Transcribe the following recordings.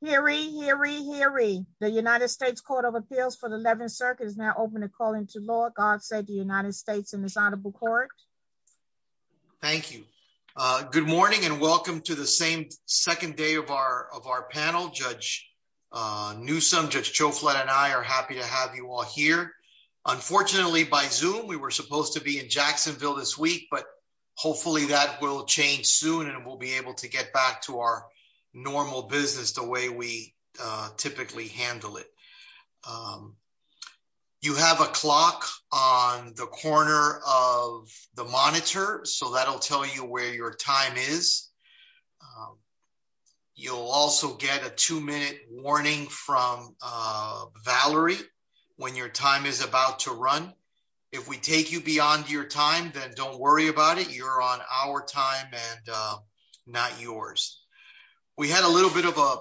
Hear ye, hear ye, hear ye. The United States Court of Appeals for the 11th Circuit is now open to call into law. God save the United States and this honorable court. Thank you. Good morning and welcome to the same second day of our of our panel. Judge Newsom, Judge Choflat and I are happy to have you all here. Unfortunately by Zoom we were supposed to be in Jacksonville this week but hopefully that will change soon and we'll be able to get back to our normal business the way we typically handle it. You have a clock on the corner of the monitor so that'll tell you where your time is. You'll also get a two-minute warning from Valerie when your time is about to run. If we take you beyond your time then don't worry about it. You're on our time and not yours. We had a little bit of a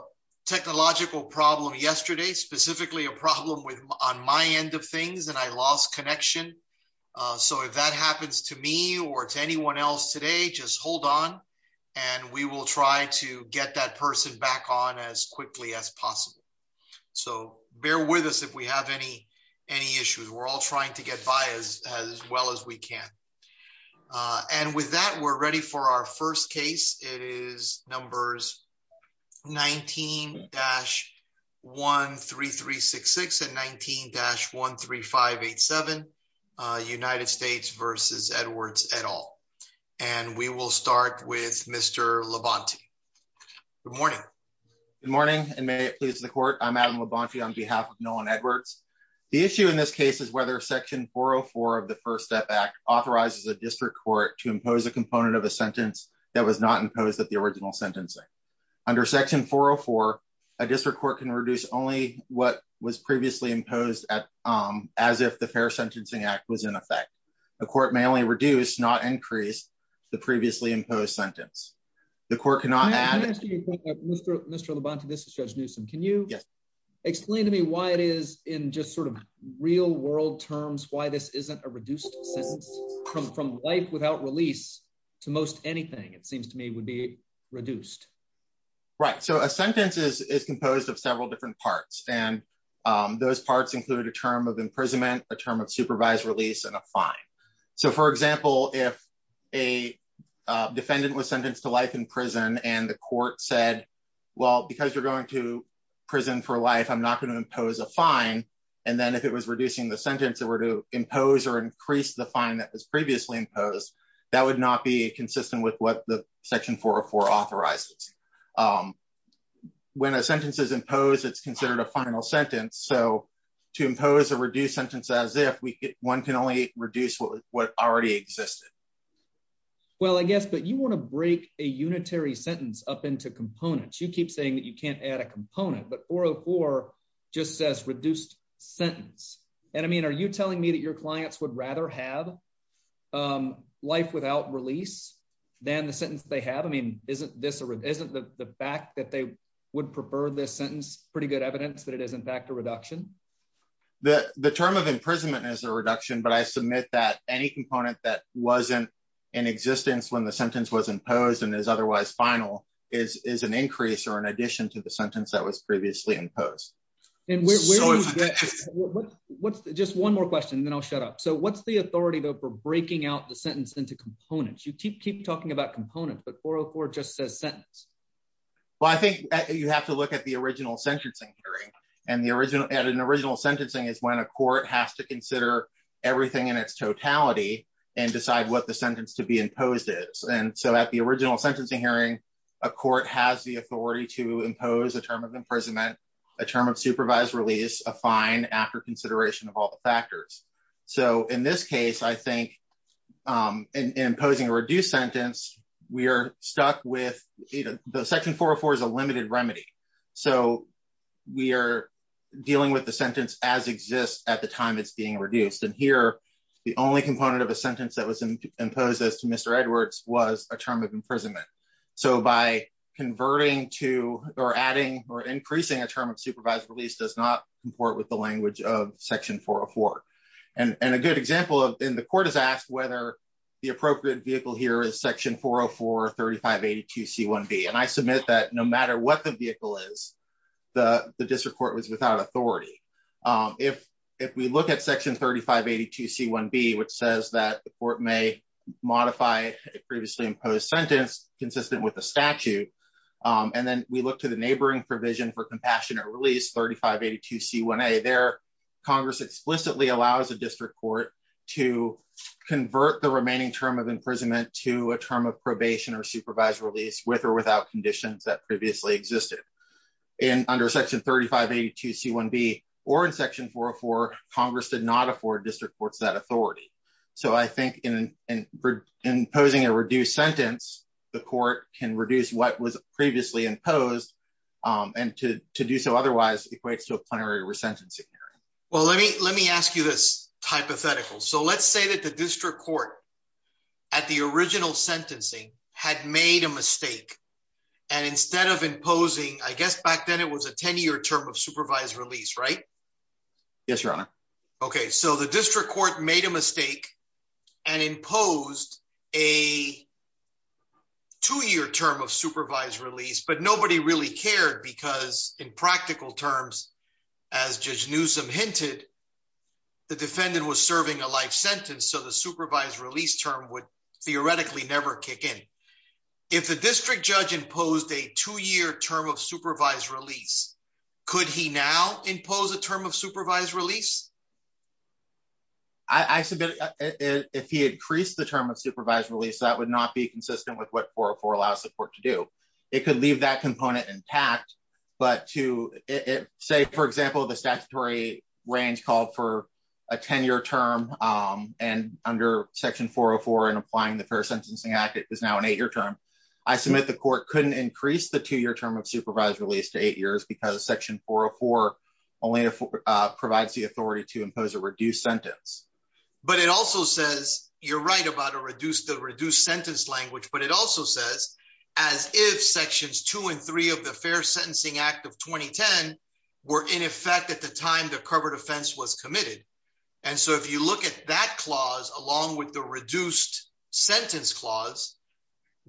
technological problem yesterday, specifically a problem with on my end of things and I lost connection. So if that happens to me or to anyone else today just hold on and we will try to get that person back on as quickly as possible. So bear with us if we have any issues. We're all trying to get by as as well as we can. And with that we're ready for our first case. It is numbers 19-13366 and 19-13587 United States versus Edwards et al. And we will start with Mr. Labonte. Good morning. Good morning and may it please the court. I'm Adam Labonte on behalf of Nolan Edwards. The issue in this case is whether section 404 of the first step act authorizes a district court to impose a component of a sentence that was not imposed at the original sentencing. Under section 404 a district court can reduce only what was previously imposed as if the fair sentencing act was in effect. The court may only reduce not increase the previously imposed sentence. The court cannot add. Mr. Labonte this is Judge Newsome. Can you explain to me why it is in just sort of real world terms why this isn't a reduced sentence from life without release to most anything it seems to me would be reduced. Right so a sentence is composed of several different parts and those parts include a term of imprisonment, a term of supervised release, and a fine. So for example if a defendant was sentenced to life in prison and the court said well because you're going to prison for life I'm not going to impose a fine and then if it was reducing the sentence it were to impose or increase the fine that was previously imposed that would not be consistent with what the section 404 authorizes. When a sentence is reduced what already existed. Well I guess but you want to break a unitary sentence up into components. You keep saying that you can't add a component but 404 just says reduced sentence and I mean are you telling me that your clients would rather have life without release than the sentence they have? I mean isn't this a isn't the fact that they would prefer this sentence pretty good evidence that it is in fact a reduction? The term of imprisonment is a myth that any component that wasn't in existence when the sentence was imposed and is otherwise final is is an increase or an addition to the sentence that was previously imposed. Just one more question then I'll shut up. So what's the authority though for breaking out the sentence into components? You keep keep talking about components but 404 just says sentence. Well I think you have to look at the original sentencing hearing and the original at an everything in its totality and decide what the sentence to be imposed is and so at the original sentencing hearing a court has the authority to impose a term of imprisonment, a term of supervised release, a fine after consideration of all the factors. So in this case I think in imposing a reduced sentence we are stuck with you know the section 404 is a limited remedy. So we are dealing with the sentence as exists at the time it's being reduced and here the only component of a sentence that was imposed as to Mr. Edwards was a term of imprisonment. So by converting to or adding or increasing a term of supervised release does not comport with the language of section 404 and and a good example of in the court is asked whether the appropriate vehicle here is section 404 3582 c1b and I submit that no matter what the vehicle is the the district court was without authority. If we look at section 3582 c1b which says that the court may modify a previously imposed sentence consistent with the statute and then we look to the neighboring provision for compassionate release 3582 c1a there congress explicitly allows a district court to convert the remaining term of imprisonment to a term of probation or supervised release with or without conditions that previously existed and under section 3582 c1b or in section 404 congress did not afford district courts that authority. So I think in in imposing a reduced sentence the court can reduce what was previously imposed and to to do so otherwise equates to a plenary resentencing hearing. Well let me let me ask you this hypothetical. So let's say that the district court at the original sentencing had made a mistake and instead of imposing I guess back then it was a 10-year term of supervised release right? Yes your honor. Okay so the district court made a mistake and imposed a two-year term of supervised release but nobody really cared because in practical terms as Judge Newsom hinted the defendant was serving a life sentence so the supervised release term would theoretically never kick in. If the district judge imposed a two-year term of supervised release could he now impose a term of supervised release? I submit if he increased the term of supervised release that would not be consistent with what intact but to say for example the statutory range called for a 10-year term and under section 404 and applying the fair sentencing act it is now an eight-year term. I submit the court couldn't increase the two-year term of supervised release to eight years because section 404 only provides the authority to impose a reduced sentence. But it also says you're right about a reduced the reduced of the fair sentencing act of 2010 were in effect at the time the covered offense was committed and so if you look at that clause along with the reduced sentence clause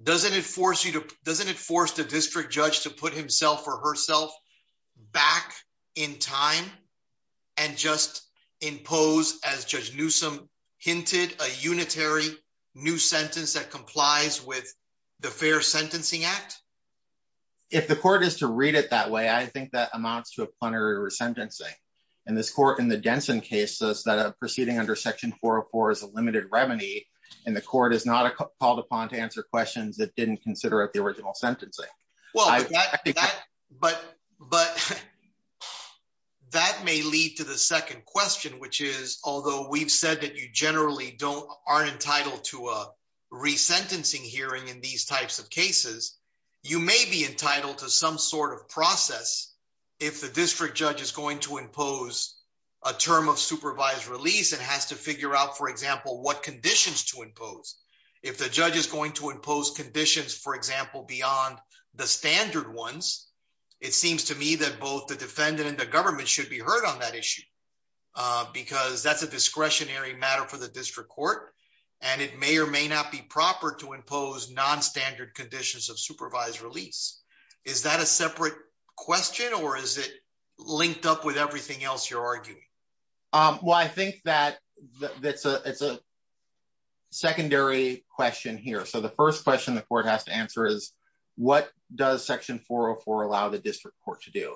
doesn't it force you to doesn't it force the district judge to put himself or herself back in time and just impose as Judge Newsom hinted a unitary new sentence that complies with the fair sentencing act if the court is to read it that way I think that amounts to a plenary resentencing and this court in the Denson case says that a proceeding under section 404 is a limited remedy and the court is not called upon to answer questions that didn't consider at the original sentencing. Well I think that but but that may lead to the second question which is although we've said that you generally don't aren't entitled to a resentencing hearing in these types of cases you may be entitled to some sort of process if the district judge is going to impose a term of supervised release and has to figure out for example what conditions to impose if the judge is going to impose conditions for example beyond the standard ones it seems to me that both the defendant and the government should be heard on that issue because that's a discretionary for the district court and it may or may not be proper to impose non-standard conditions of supervised release is that a separate question or is it linked up with everything else you're arguing um well I think that that's a it's a secondary question here so the first question the court has to answer is what does section 404 allow the district court to do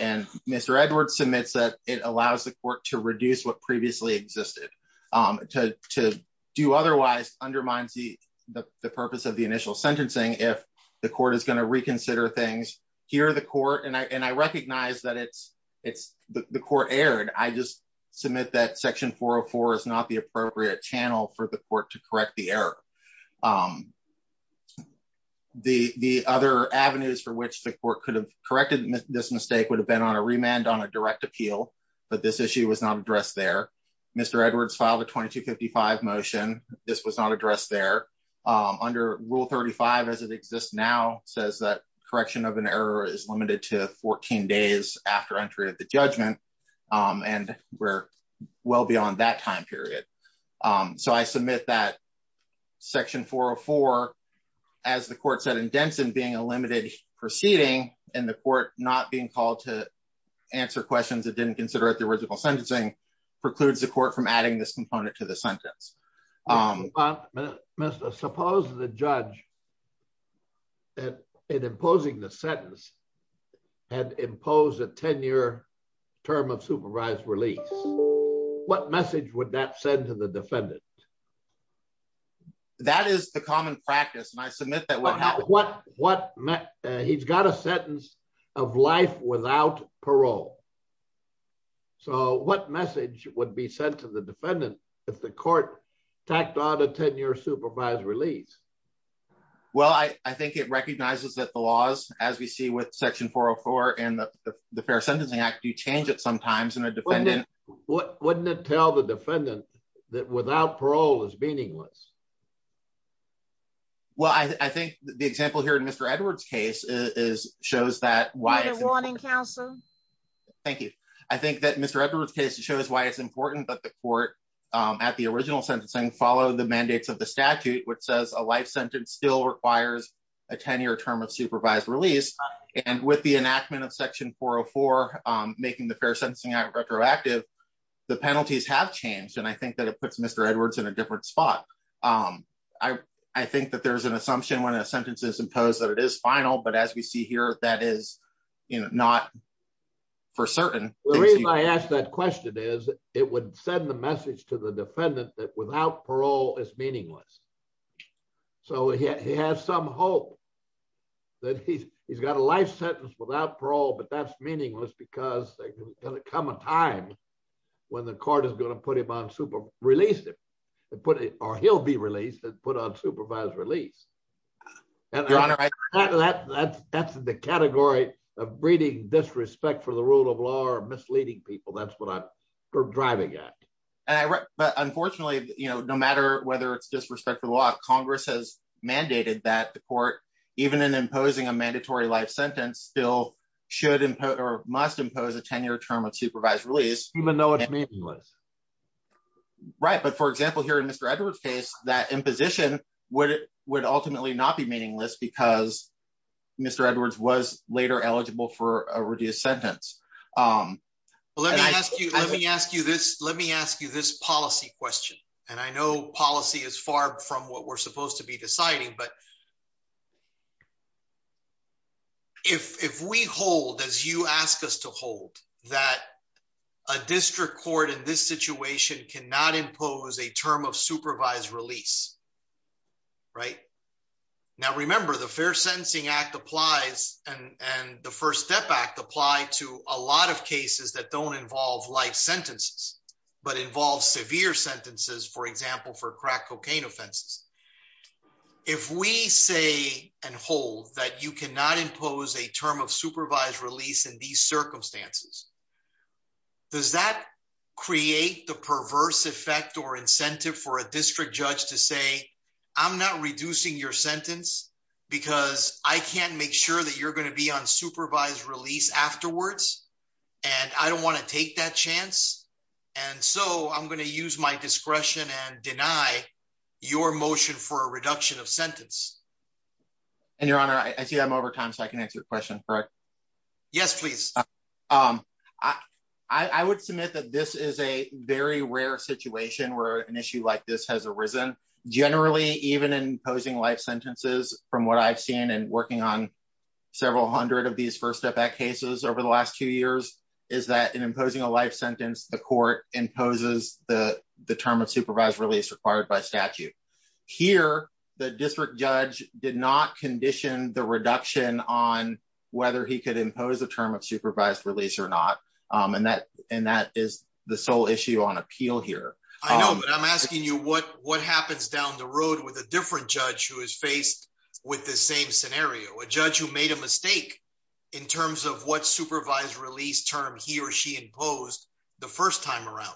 and Mr. Edwards submits that it allows the court to reduce what previously existed um to to do otherwise undermines the the purpose of the initial sentencing if the court is going to reconsider things here the court and I and I recognize that it's it's the court aired I just submit that section 404 is not the appropriate channel for the court to correct the error um the the other avenues for which the court could have this mistake would have been on a remand on a direct appeal but this issue was not addressed there Mr. Edwards filed a 2255 motion this was not addressed there um under rule 35 as it exists now says that correction of an error is limited to 14 days after entry of the judgment um and we're well beyond that time period um so I submit that section 404 as the court said in Denson being a limited proceeding and the court not being called to answer questions that didn't consider it the original sentencing precludes the court from adding this component to the sentence Mr. suppose the judge that in imposing the sentence had imposed a 10-year term of supervised release what message would that send to the defendant that is the common practice and I submit that what happened what what met he's got a sentence of life without parole so what message would be sent to the defendant if the court tacked on a 10-year supervised release well I I think it recognizes that the laws as we see with section 404 and the the fair sentencing act you change it sometimes in a defendant what wouldn't it tell the is meaningless well I I think the example here in Mr. Edwards case is shows that why thank you I think that Mr. Edwards case shows why it's important that the court um at the original sentencing follow the mandates of the statute which says a life sentence still requires a 10-year term of supervised release and with the enactment of section 404 um making the different spot um I I think that there's an assumption when a sentence is imposed that it is final but as we see here that is you know not for certain the reason I asked that question is it would send the message to the defendant that without parole is meaningless so he has some hope that he's he's got a life sentence without parole but that's meaningless because come a time when the court is going to put him on super release him and put it or he'll be released and put on supervised release and your honor that that's that's the category of breeding disrespect for the rule of law or misleading people that's what I'm driving at but unfortunately you know no matter whether it's disrespect for the law congress has mandated that the court even in imposing a mandatory life sentence still should impose must impose a 10-year term of supervised release even though it's meaningless right but for example here in Mr. Edwards case that imposition would would ultimately not be meaningless because Mr. Edwards was later eligible for a reduced sentence um let me ask you let me ask you this let me ask you this policy question and I know policy is far from what we're supposed to be to hold that a district court in this situation cannot impose a term of supervised release right now remember the fair sentencing act applies and and the first step act apply to a lot of cases that don't involve life sentences but involve severe sentences for example for crack cocaine offenses if we say and hold that you cannot impose a term of supervised release in these circumstances does that create the perverse effect or incentive for a district judge to say I'm not reducing your sentence because I can't make sure that you're going to be on supervised release afterwards and I don't want to take that chance and so I'm going to use my discretion and deny your motion for a reduction of sentence and your honor I see I'm over time I can answer the question correct yes please um I I would submit that this is a very rare situation where an issue like this has arisen generally even in posing life sentences from what I've seen and working on several hundred of these first step back cases over the last two years is that in imposing a life sentence the court imposes the the term of supervised release required by statute here the district judge did not condition the reduction on whether he could impose the term of supervised release or not um and that and that is the sole issue on appeal here I know but I'm asking you what what happens down the road with a different judge who is faced with the same scenario a judge who made a mistake in terms of what supervised release term he or he imposed the first time around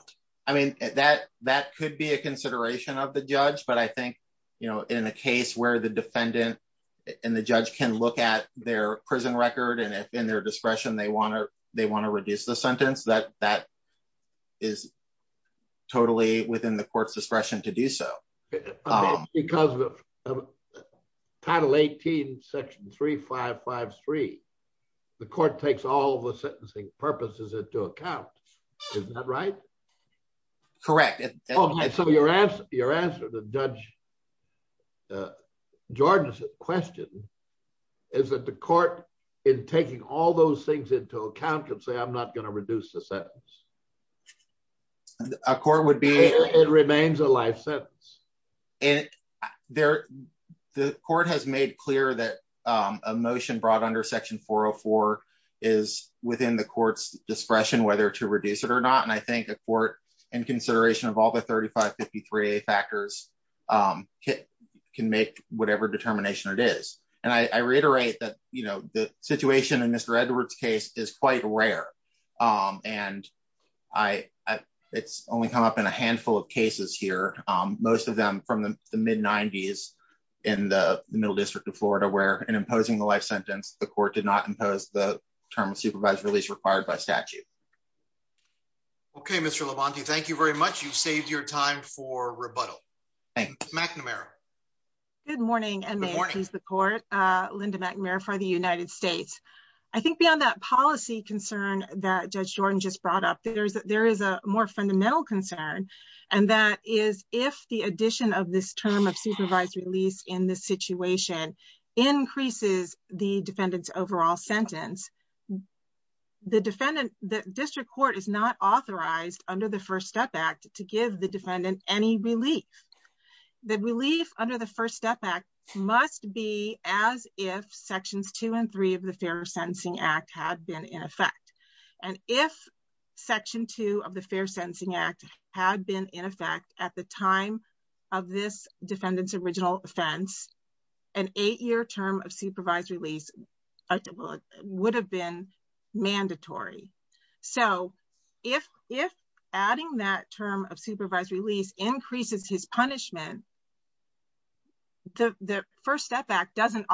I mean that that could be a consideration of the judge but I think you know in a case where the defendant and the judge can look at their prison record and if in their discretion they want to they want to reduce the sentence that that is totally within the court's discretion to do so because of title 18 section 3553 the court takes all the sentencing purposes into account isn't that right correct so your answer your answer to judge Jordan's question is that the court in taking all those things into account can say I'm not going to reduce the sentence a court would be it remains a life sentence and there the court has clear that um a motion brought under section 404 is within the court's discretion whether to reduce it or not and I think a court in consideration of all the 3553 factors um can make whatever determination it is and I reiterate that you know the situation in Mr. Edwards case is quite rare um and I it's only come up in a handful of cases here um most of them from the mid 90s in the middle district of Florida where in imposing the life sentence the court did not impose the term of supervised release required by statute okay Mr. Labonte thank you very much you saved your time for rebuttal thanks McNamara good morning and may I please the court uh Linda McNamara for the United States I think beyond that policy concern that Judge Jordan just brought up there is a more fundamental concern and that is if the addition of this term of supervised release in this situation increases the defendant's overall sentence the defendant the district court is not authorized under the first step act to give the defendant any relief the relief under the first step act must be as if sections two and three of the fair sentencing act had been in effect and if section two of the fair sentencing act had been in effect at the time of this defendant's original offense an eight-year term of supervised release would have been mandatory so if if adding that term of supervised release increases his punishment the the first step act doesn't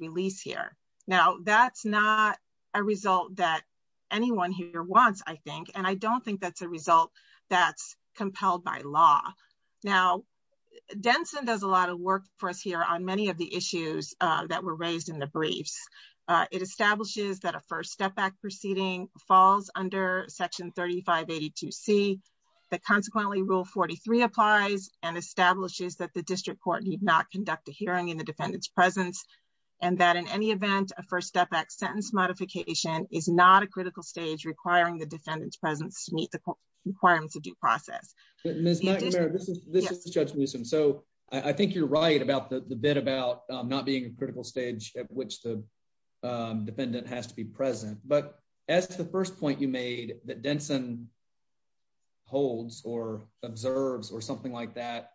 release here now that's not a result that anyone here wants I think and I don't think that's a result that's compelled by law now Denson does a lot of work for us here on many of the issues that were raised in the briefs it establishes that a first step back proceeding falls under section 3582c that consequently rule 43 applies and establishes that the district court need not and that in any event a first step back sentence modification is not a critical stage requiring the defendant's presence to meet the requirements of due process this is Judge Newsom so I think you're right about the bit about not being a critical stage at which the defendant has to be present but as the first point you made that Denson holds or observes or something like that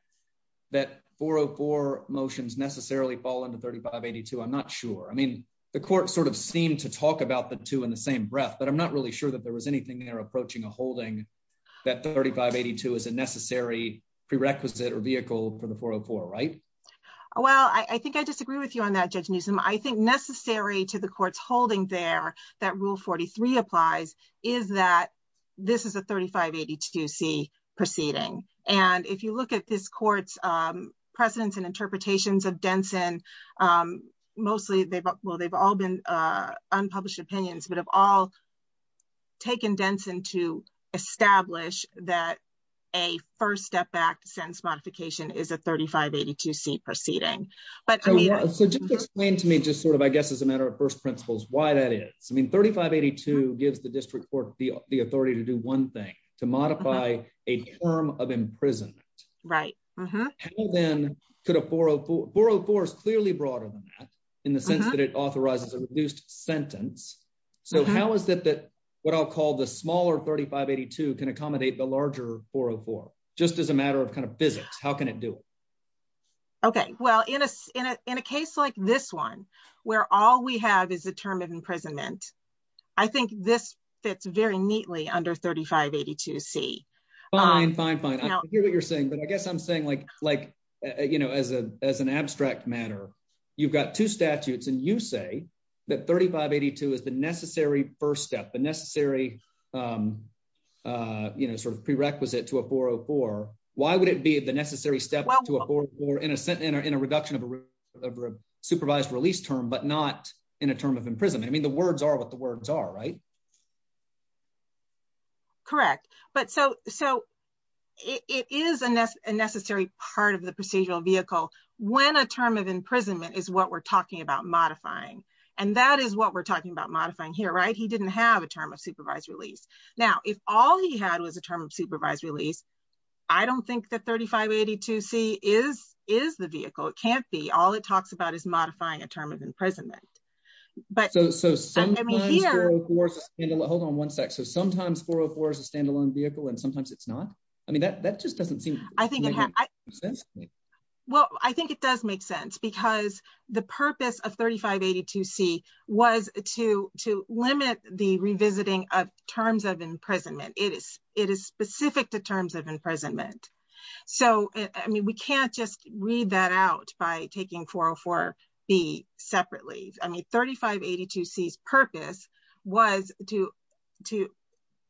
that 404 motions necessarily fall into 3582 I'm not sure I mean the court sort of seemed to talk about the two in the same breath but I'm not really sure that there was anything there approaching a holding that 3582 is a necessary prerequisite or vehicle for the 404 right well I think I disagree with you on that Judge Newsom I think to the court's holding there that rule 43 applies is that this is a 3582c proceeding and if you look at this court's precedents and interpretations of Denson mostly they've well they've all been unpublished opinions but have all taken Denson to establish that a first step back sentence modification is a 3582c proceeding but I mean so just explain to me just sort of I guess as a matter of first principles why that is I mean 3582 gives the district court the authority to do one thing to modify a term of imprisonment right then could a 404 404 is clearly broader than that in the sense that it authorizes a reduced sentence so how is it that what I'll call the smaller 3582 can accommodate the larger 404 just as a matter of kind of physics how can it do it okay well in a in a case like this one where all we have is a term of imprisonment I think this fits very neatly under 3582c fine fine fine I hear what you're saying but I guess I'm saying like like you know as a as an abstract matter you've got two statutes and you say that 3582 is the necessary first step the necessary um uh you know sort of prerequisite to a 404 why would it be the necessary step to a 44 innocent in a reduction of a supervised release term but not in a term of imprisonment I mean the words are what the words are right correct but so so it is a necessary part of the procedural vehicle when a term of imprisonment is what we're talking about modifying and that is what we're talking about modifying here right he didn't have a term of supervised release now if all he had was a term of supervised release I don't think that 3582c is is the vehicle it can't be all it talks about is modifying a term of imprisonment but so so sometimes hold on one sec so sometimes 404 is a standalone vehicle and sometimes it's not I mean that that just doesn't seem I think it has well I think it does make because the purpose of 3582c was to to limit the revisiting of terms of imprisonment it is it is specific to terms of imprisonment so I mean we can't just read that out by taking 404b separately I mean 3582c's purpose was to to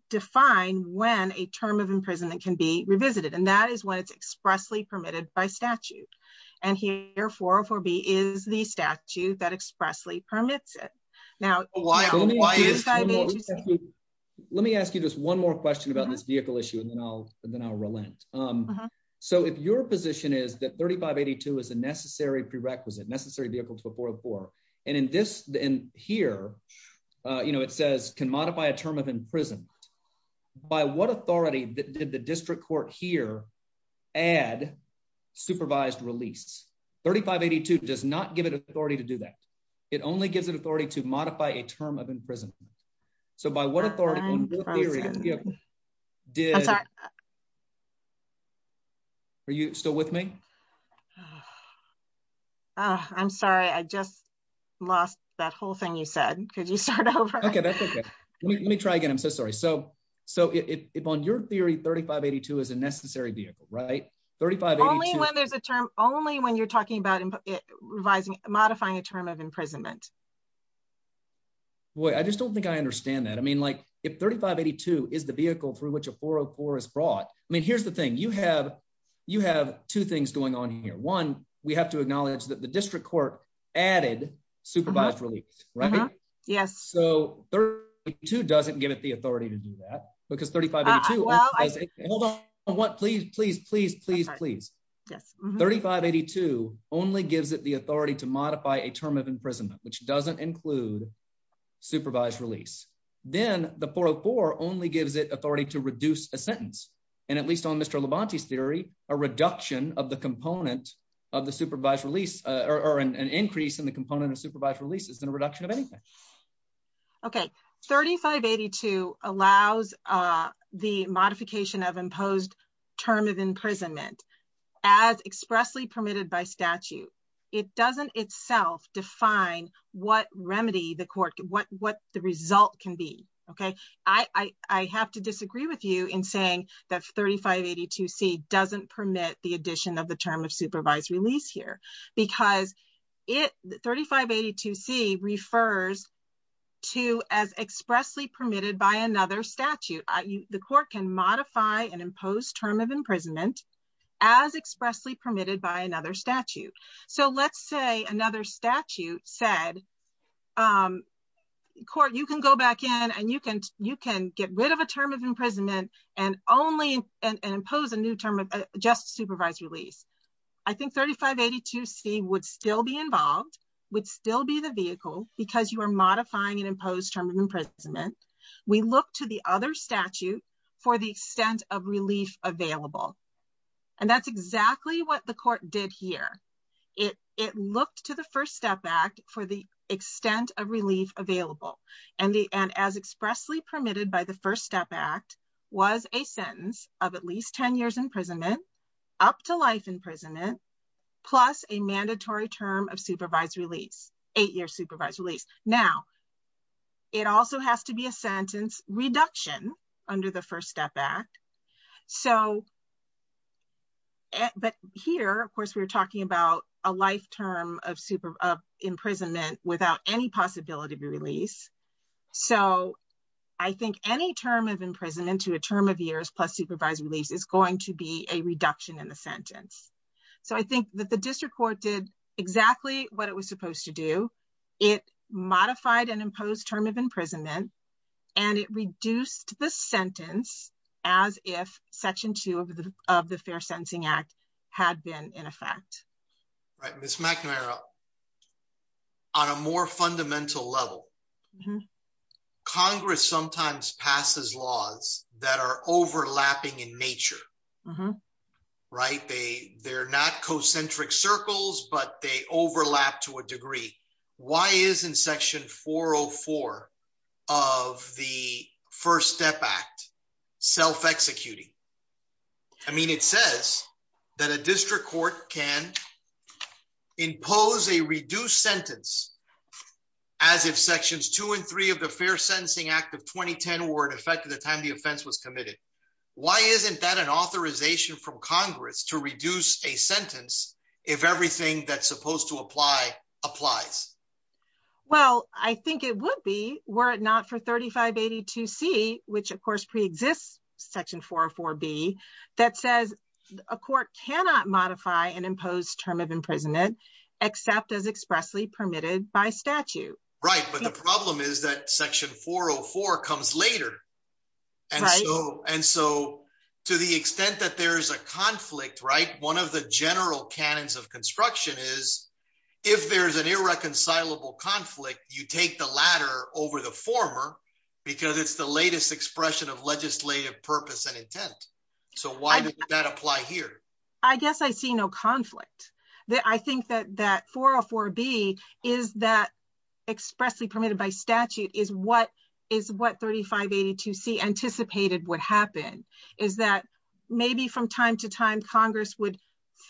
define when a term of imprisonment can be revisited and that is when it's expressly permitted by statute and here 404b is the statute that expressly permits it now let me ask you just one more question about this vehicle issue and then I'll then I'll relent so if your position is that 3582 is a necessary prerequisite necessary vehicle to a 404 and in this in here you know it says can modify a term of imprisonment by what authority did the add supervised release 3582 does not give it authority to do that it only gives it authority to modify a term of imprisonment so by what authority did are you still with me oh I'm sorry I just lost that whole thing you said could you start over okay that's okay let right 35 only when there's a term only when you're talking about revising modifying a term of imprisonment boy I just don't think I understand that I mean like if 3582 is the vehicle through which a 404 is brought I mean here's the thing you have you have two things going on here one we have to acknowledge that the district court added supervised release right yes so 32 doesn't give it the authority to do that because 3582 well hold on what please please please please please yes 3582 only gives it the authority to modify a term of imprisonment which doesn't include supervised release then the 404 only gives it authority to reduce a sentence and at least on Mr. Levante's theory a reduction of the component of the supervised release or an increase in the component of supervised release is in a reduction of anything okay 3582 allows uh the modification of imposed term of imprisonment as expressly permitted by statute it doesn't itself define what remedy the court what what the result can be okay I I have to disagree with you in saying that 3582c doesn't permit the addition of the term of supervised release here because it 3582c refers to as expressly permitted by another statute you the court can modify and impose term of imprisonment as expressly permitted by another statute so let's say another statute said um court you can go back in and you can you can get rid of a term of 3582c would still be involved would still be the vehicle because you are modifying an imposed term of imprisonment we look to the other statute for the extent of relief available and that's exactly what the court did here it it looked to the first step act for the extent of relief available and the and as expressly permitted by the first step act was a sentence of at least 10 years imprisonment up to life imprisonment plus a mandatory term of supervised release eight-year supervised release now it also has to be a sentence reduction under the first step act so but here of course we were talking about a life term of super of imprisonment without any possibility of release so I think any term of imprisonment to a term of years plus supervised release is going to be a reduction in the sentence so I think that the district court did exactly what it was supposed to do it modified and imposed term of imprisonment and it reduced the sentence as if section two of the of the fair sentencing act had been in effect right miss in nature right they they're not concentric circles but they overlap to a degree why is in section 404 of the first step act self-executing I mean it says that a district court can impose a reduced sentence as if sections two and three of the fair sentencing act of 2010 were in effect at the time the offense was committed why isn't that an authorization from congress to reduce a sentence if everything that's supposed to apply applies well I think it would be were it not for 3582 c which of course pre-exists section 404 b that says a court cannot modify an imposed term of imprisonment except as expressly permitted by statute right but the and so and so to the extent that there is a conflict right one of the general canons of construction is if there's an irreconcilable conflict you take the latter over the former because it's the latest expression of legislative purpose and intent so why did that apply here I guess I see no conflict that I think that that 404 b is that expressly permitted by statute is what 3582 c anticipated would happen is that maybe from time to time congress would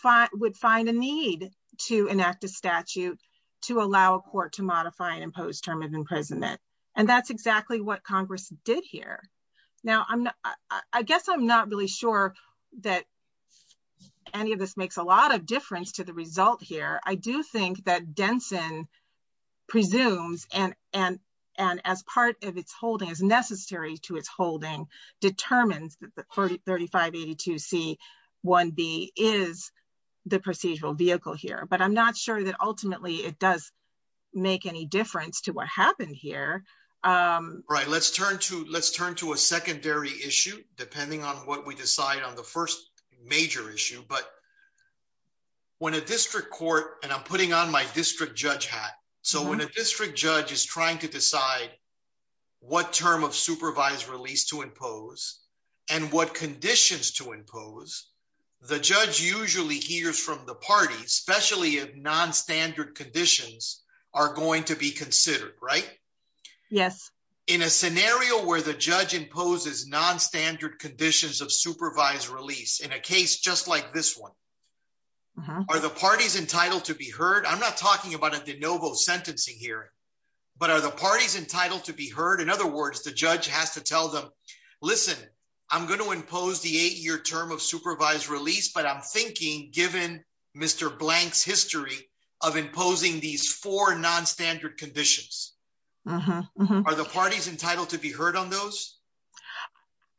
find would find a need to enact a statute to allow a court to modify an imposed term of imprisonment and that's exactly what congress did here now I'm I guess I'm not really sure that any of this makes a lot difference to the result here I do think that Denson presumes and and and as part of its holding as necessary to its holding determines that the 30 3582 c 1 b is the procedural vehicle here but I'm not sure that ultimately it does make any difference to what happened here um right let's turn to let's turn to a secondary issue depending on what we decide on the first major issue but when a district court and I'm putting on my district judge hat so when a district judge is trying to decide what term of supervised release to impose and what conditions to impose the judge usually hears from the party especially if non-standard conditions are going to be considered right yes in a scenario where the judge imposes non-standard conditions of supervised release in a case just like this one are the parties entitled to be heard I'm not talking about a de novo sentencing hearing but are the parties entitled to be heard in other words the judge has to tell them listen I'm going to impose the eight-year term of supervised release but I'm thinking given Mr. Blank's history of imposing these four non-standard conditions are the parties entitled to be heard on those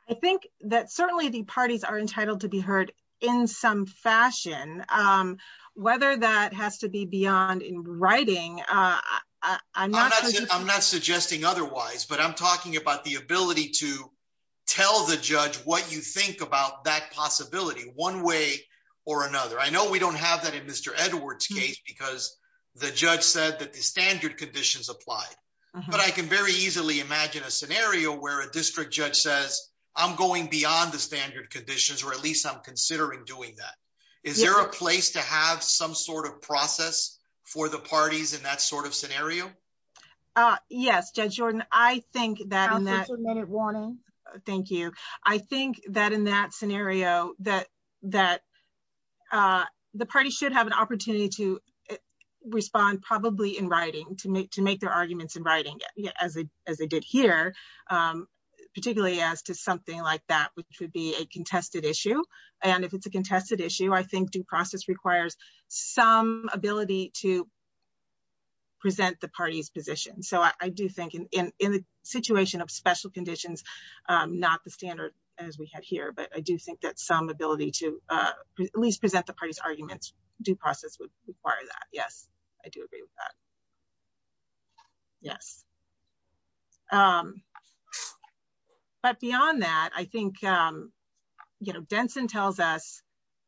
I think that certainly the parties are entitled to be heard in some fashion um whether that has to be beyond in writing uh I'm not I'm not suggesting otherwise but I'm talking about the ability to tell the judge what you think about that possibility one way or another I know we don't have that in Mr. Edwards case because the judge said that the standard conditions applied but I can very easily imagine a scenario where a district judge says I'm going beyond the standard conditions or at least I'm considering doing that is there a place to have some sort of process for the parties in that sort of scenario uh yes Judge Jordan I think that in that minute warning thank you I think that in that scenario that that uh should have an opportunity to respond probably in writing to make to make their arguments in writing as they as they did here um particularly as to something like that which would be a contested issue and if it's a contested issue I think due process requires some ability to present the party's position so I do think in in the situation of special conditions um not the standard as we had here but I do think that some ability to uh at least present the party's arguments due process would require that yes I do agree with that yes um but beyond that I think um you know Denson tells us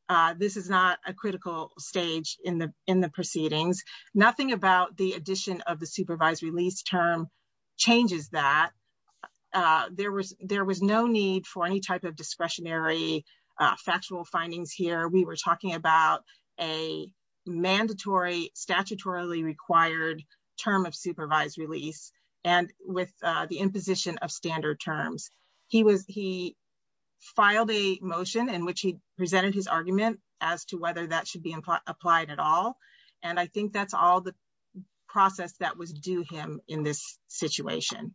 uh this is not a critical stage in the in the proceedings nothing about the addition of the discretionary uh factual findings here we were talking about a mandatory statutorily required term of supervised release and with uh the imposition of standard terms he was he filed a motion in which he presented his argument as to whether that should be applied at all and I think that's all the process that was due him in this situation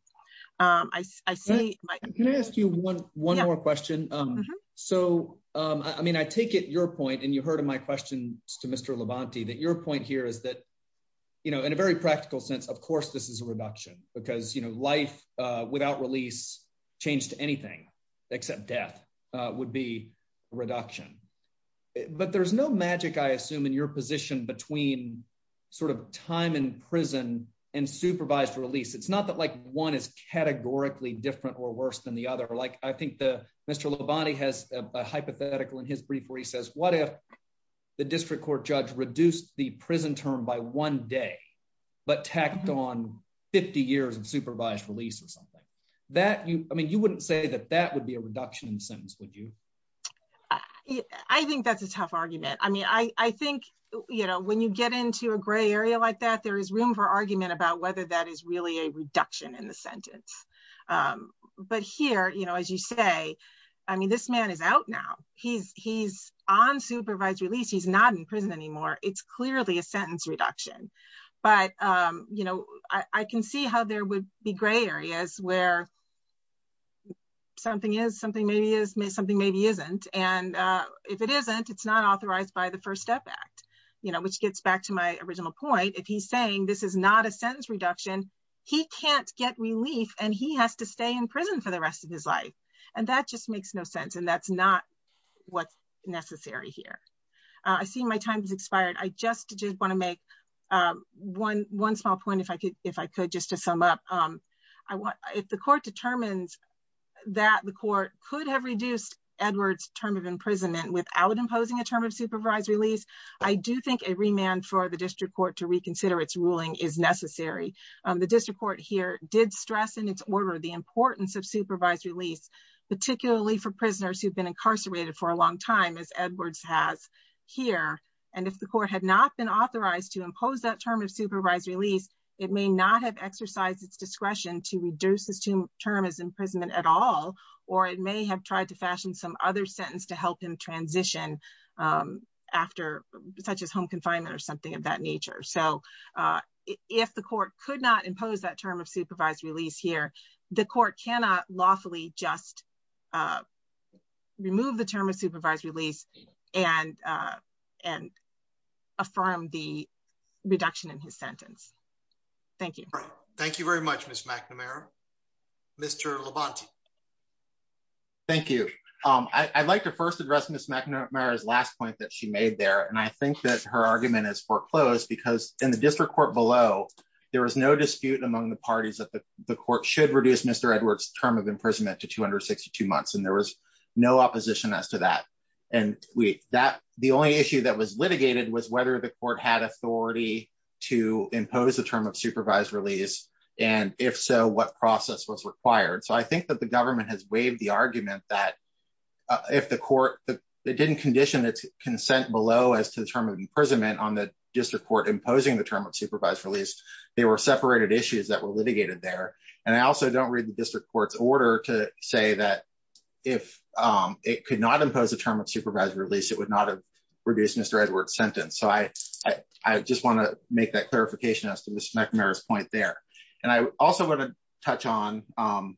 um I see can I ask you one more question um so um I mean I take it your point and you heard my questions to Mr. Levante that your point here is that you know in a very practical sense of course this is a reduction because you know life uh without release change to anything except death uh would be reduction but there's no magic I assume in your position between sort of time in prison and supervised release it's not that like one is categorically different or worse than the other like I think Mr. Levante has a hypothetical in his brief where he says what if the district court judge reduced the prison term by one day but tacked on 50 years of supervised release or something that you I mean you wouldn't say that that would be a reduction in the sentence would you I think that's a tough argument I mean I I think you know when you get into a gray area like that there is room for argument about whether that is really a reduction in the sentence um but here you as you say I mean this man is out now he's he's on supervised release he's not in prison anymore it's clearly a sentence reduction but um you know I can see how there would be gray areas where something is something maybe is maybe something maybe isn't and uh if it isn't it's not authorized by the first step act you know which gets back to my original point if he's saying this is not sentence reduction he can't get relief and he has to stay in prison for the rest of his life and that just makes no sense and that's not what's necessary here I see my time has expired I just did want to make um one one small point if I could if I could just to sum up um I want if the court determines that the court could have reduced Edward's term of imprisonment without imposing a term of supervised release I do think a remand for the district court to reconsider its ruling is necessary um the district court here did stress in its order the importance of supervised release particularly for prisoners who've been incarcerated for a long time as Edwards has here and if the court had not been authorized to impose that term of supervised release it may not have exercised its discretion to reduce this term as imprisonment at all or it may have tried to fashion some other sentence to help him transition um after such home confinement or something of that nature so uh if the court could not impose that term of supervised release here the court cannot lawfully just uh remove the term of supervised release and uh and affirm the reduction in his sentence thank you thank you very much miss McNamara Mr. Levante thank you um I'd like to first address miss McNamara's last point that she made there and I think that her argument is foreclosed because in the district court below there was no dispute among the parties that the court should reduce Mr. Edwards term of imprisonment to 262 months and there was no opposition as to that and we that the only issue that was litigated was whether the court had authority to impose the term of supervised release and if so what process was required so I think that the government has waived the argument that if the court that didn't condition its consent below as to the term of imprisonment on the district court imposing the term of supervised release they were separated issues that were litigated there and I also don't read the district court's order to say that if um it could not impose a term of supervised release it would not have reduced Mr. Edwards sentence so I I just want to make that clarification as to Mr. McNamara's point there and I also want to touch on um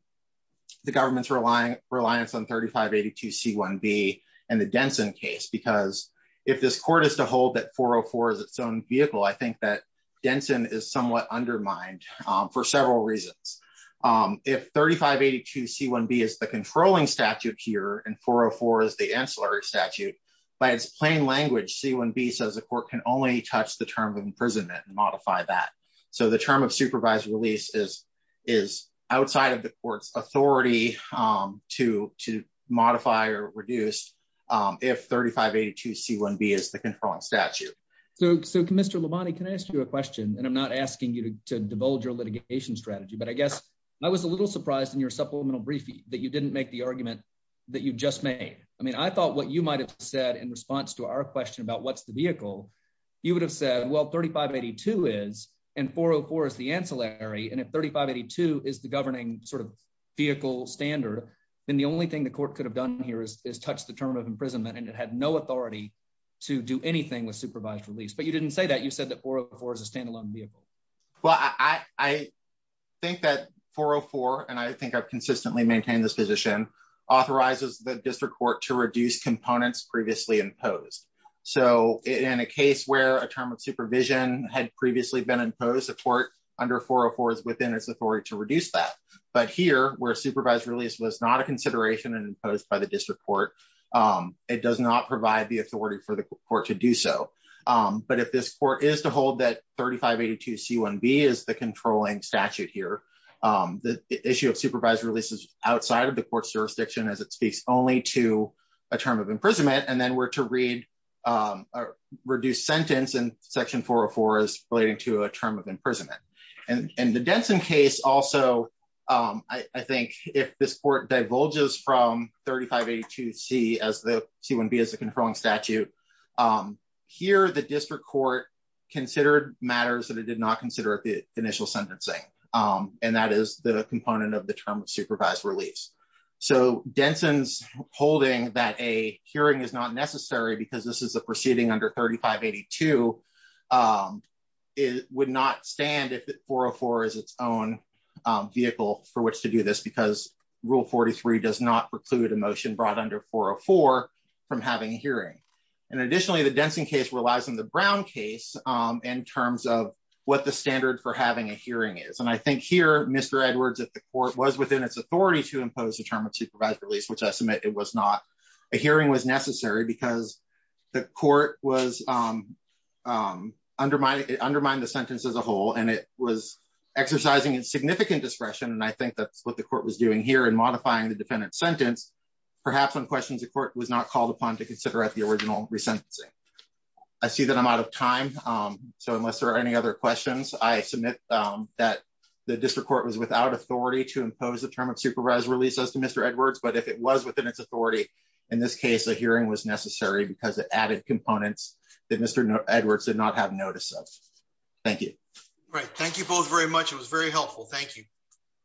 the government's relying reliance on 3582 C1B and the Denson case because if this court is to hold that 404 is its own vehicle I think that Denson is somewhat undermined um for several reasons um if 3582 C1B is the controlling statute here and 404 is the ancillary statute by its plain language C1B says the court can only touch the term of imprisonment and modify that so the term supervised release is is outside of the court's authority um to to modify or reduce um if 3582 C1B is the controlling statute so so Mr. Labonte can I ask you a question and I'm not asking you to divulge your litigation strategy but I guess I was a little surprised in your supplemental briefing that you didn't make the argument that you just made I mean I thought what you might have said in response to our question about what's the vehicle you would have said well 3582 is and 404 is the ancillary and if 3582 is the governing sort of vehicle standard then the only thing the court could have done here is is touch the term of imprisonment and it had no authority to do anything with supervised release but you didn't say that you said that 404 is a standalone vehicle well I I think that 404 and I think I've consistently maintained this position authorizes the district court to reduce components previously imposed so in a case where a term of support under 404 is within its authority to reduce that but here where supervised release was not a consideration and imposed by the district court um it does not provide the authority for the court to do so um but if this court is to hold that 3582 C1B is the controlling statute here um the issue of supervised releases outside of the court's jurisdiction as it speaks only to a term of imprisonment and then we're to read um a reduced sentence in section 404 is relating to a term of imprisonment and and the Denson case also um I I think if this court divulges from 3582 C as the C1B as a controlling statute um here the district court considered matters that it did not consider at the initial sentencing um and that is the component of the term of supervised release so Denson's holding that a hearing is not necessary because this is proceeding under 3582 um it would not stand if 404 is its own um vehicle for which to do this because rule 43 does not preclude a motion brought under 404 from having a hearing and additionally the Denson case relies on the Brown case um in terms of what the standard for having a hearing is and I think here Mr. Edwards if the court was within its authority to impose a term release which I submit it was not a hearing was necessary because the court was um um undermined it undermined the sentence as a whole and it was exercising in significant discretion and I think that's what the court was doing here in modifying the defendant's sentence perhaps when questions the court was not called upon to consider at the original resentencing I see that I'm out of time um so unless there are any other questions I submit um that the district was without authority to impose the term of supervised release as to Mr. Edwards but if it was within its authority in this case a hearing was necessary because it added components that Mr. Edwards did not have notice of thank you all right thank you both very much it was very helpful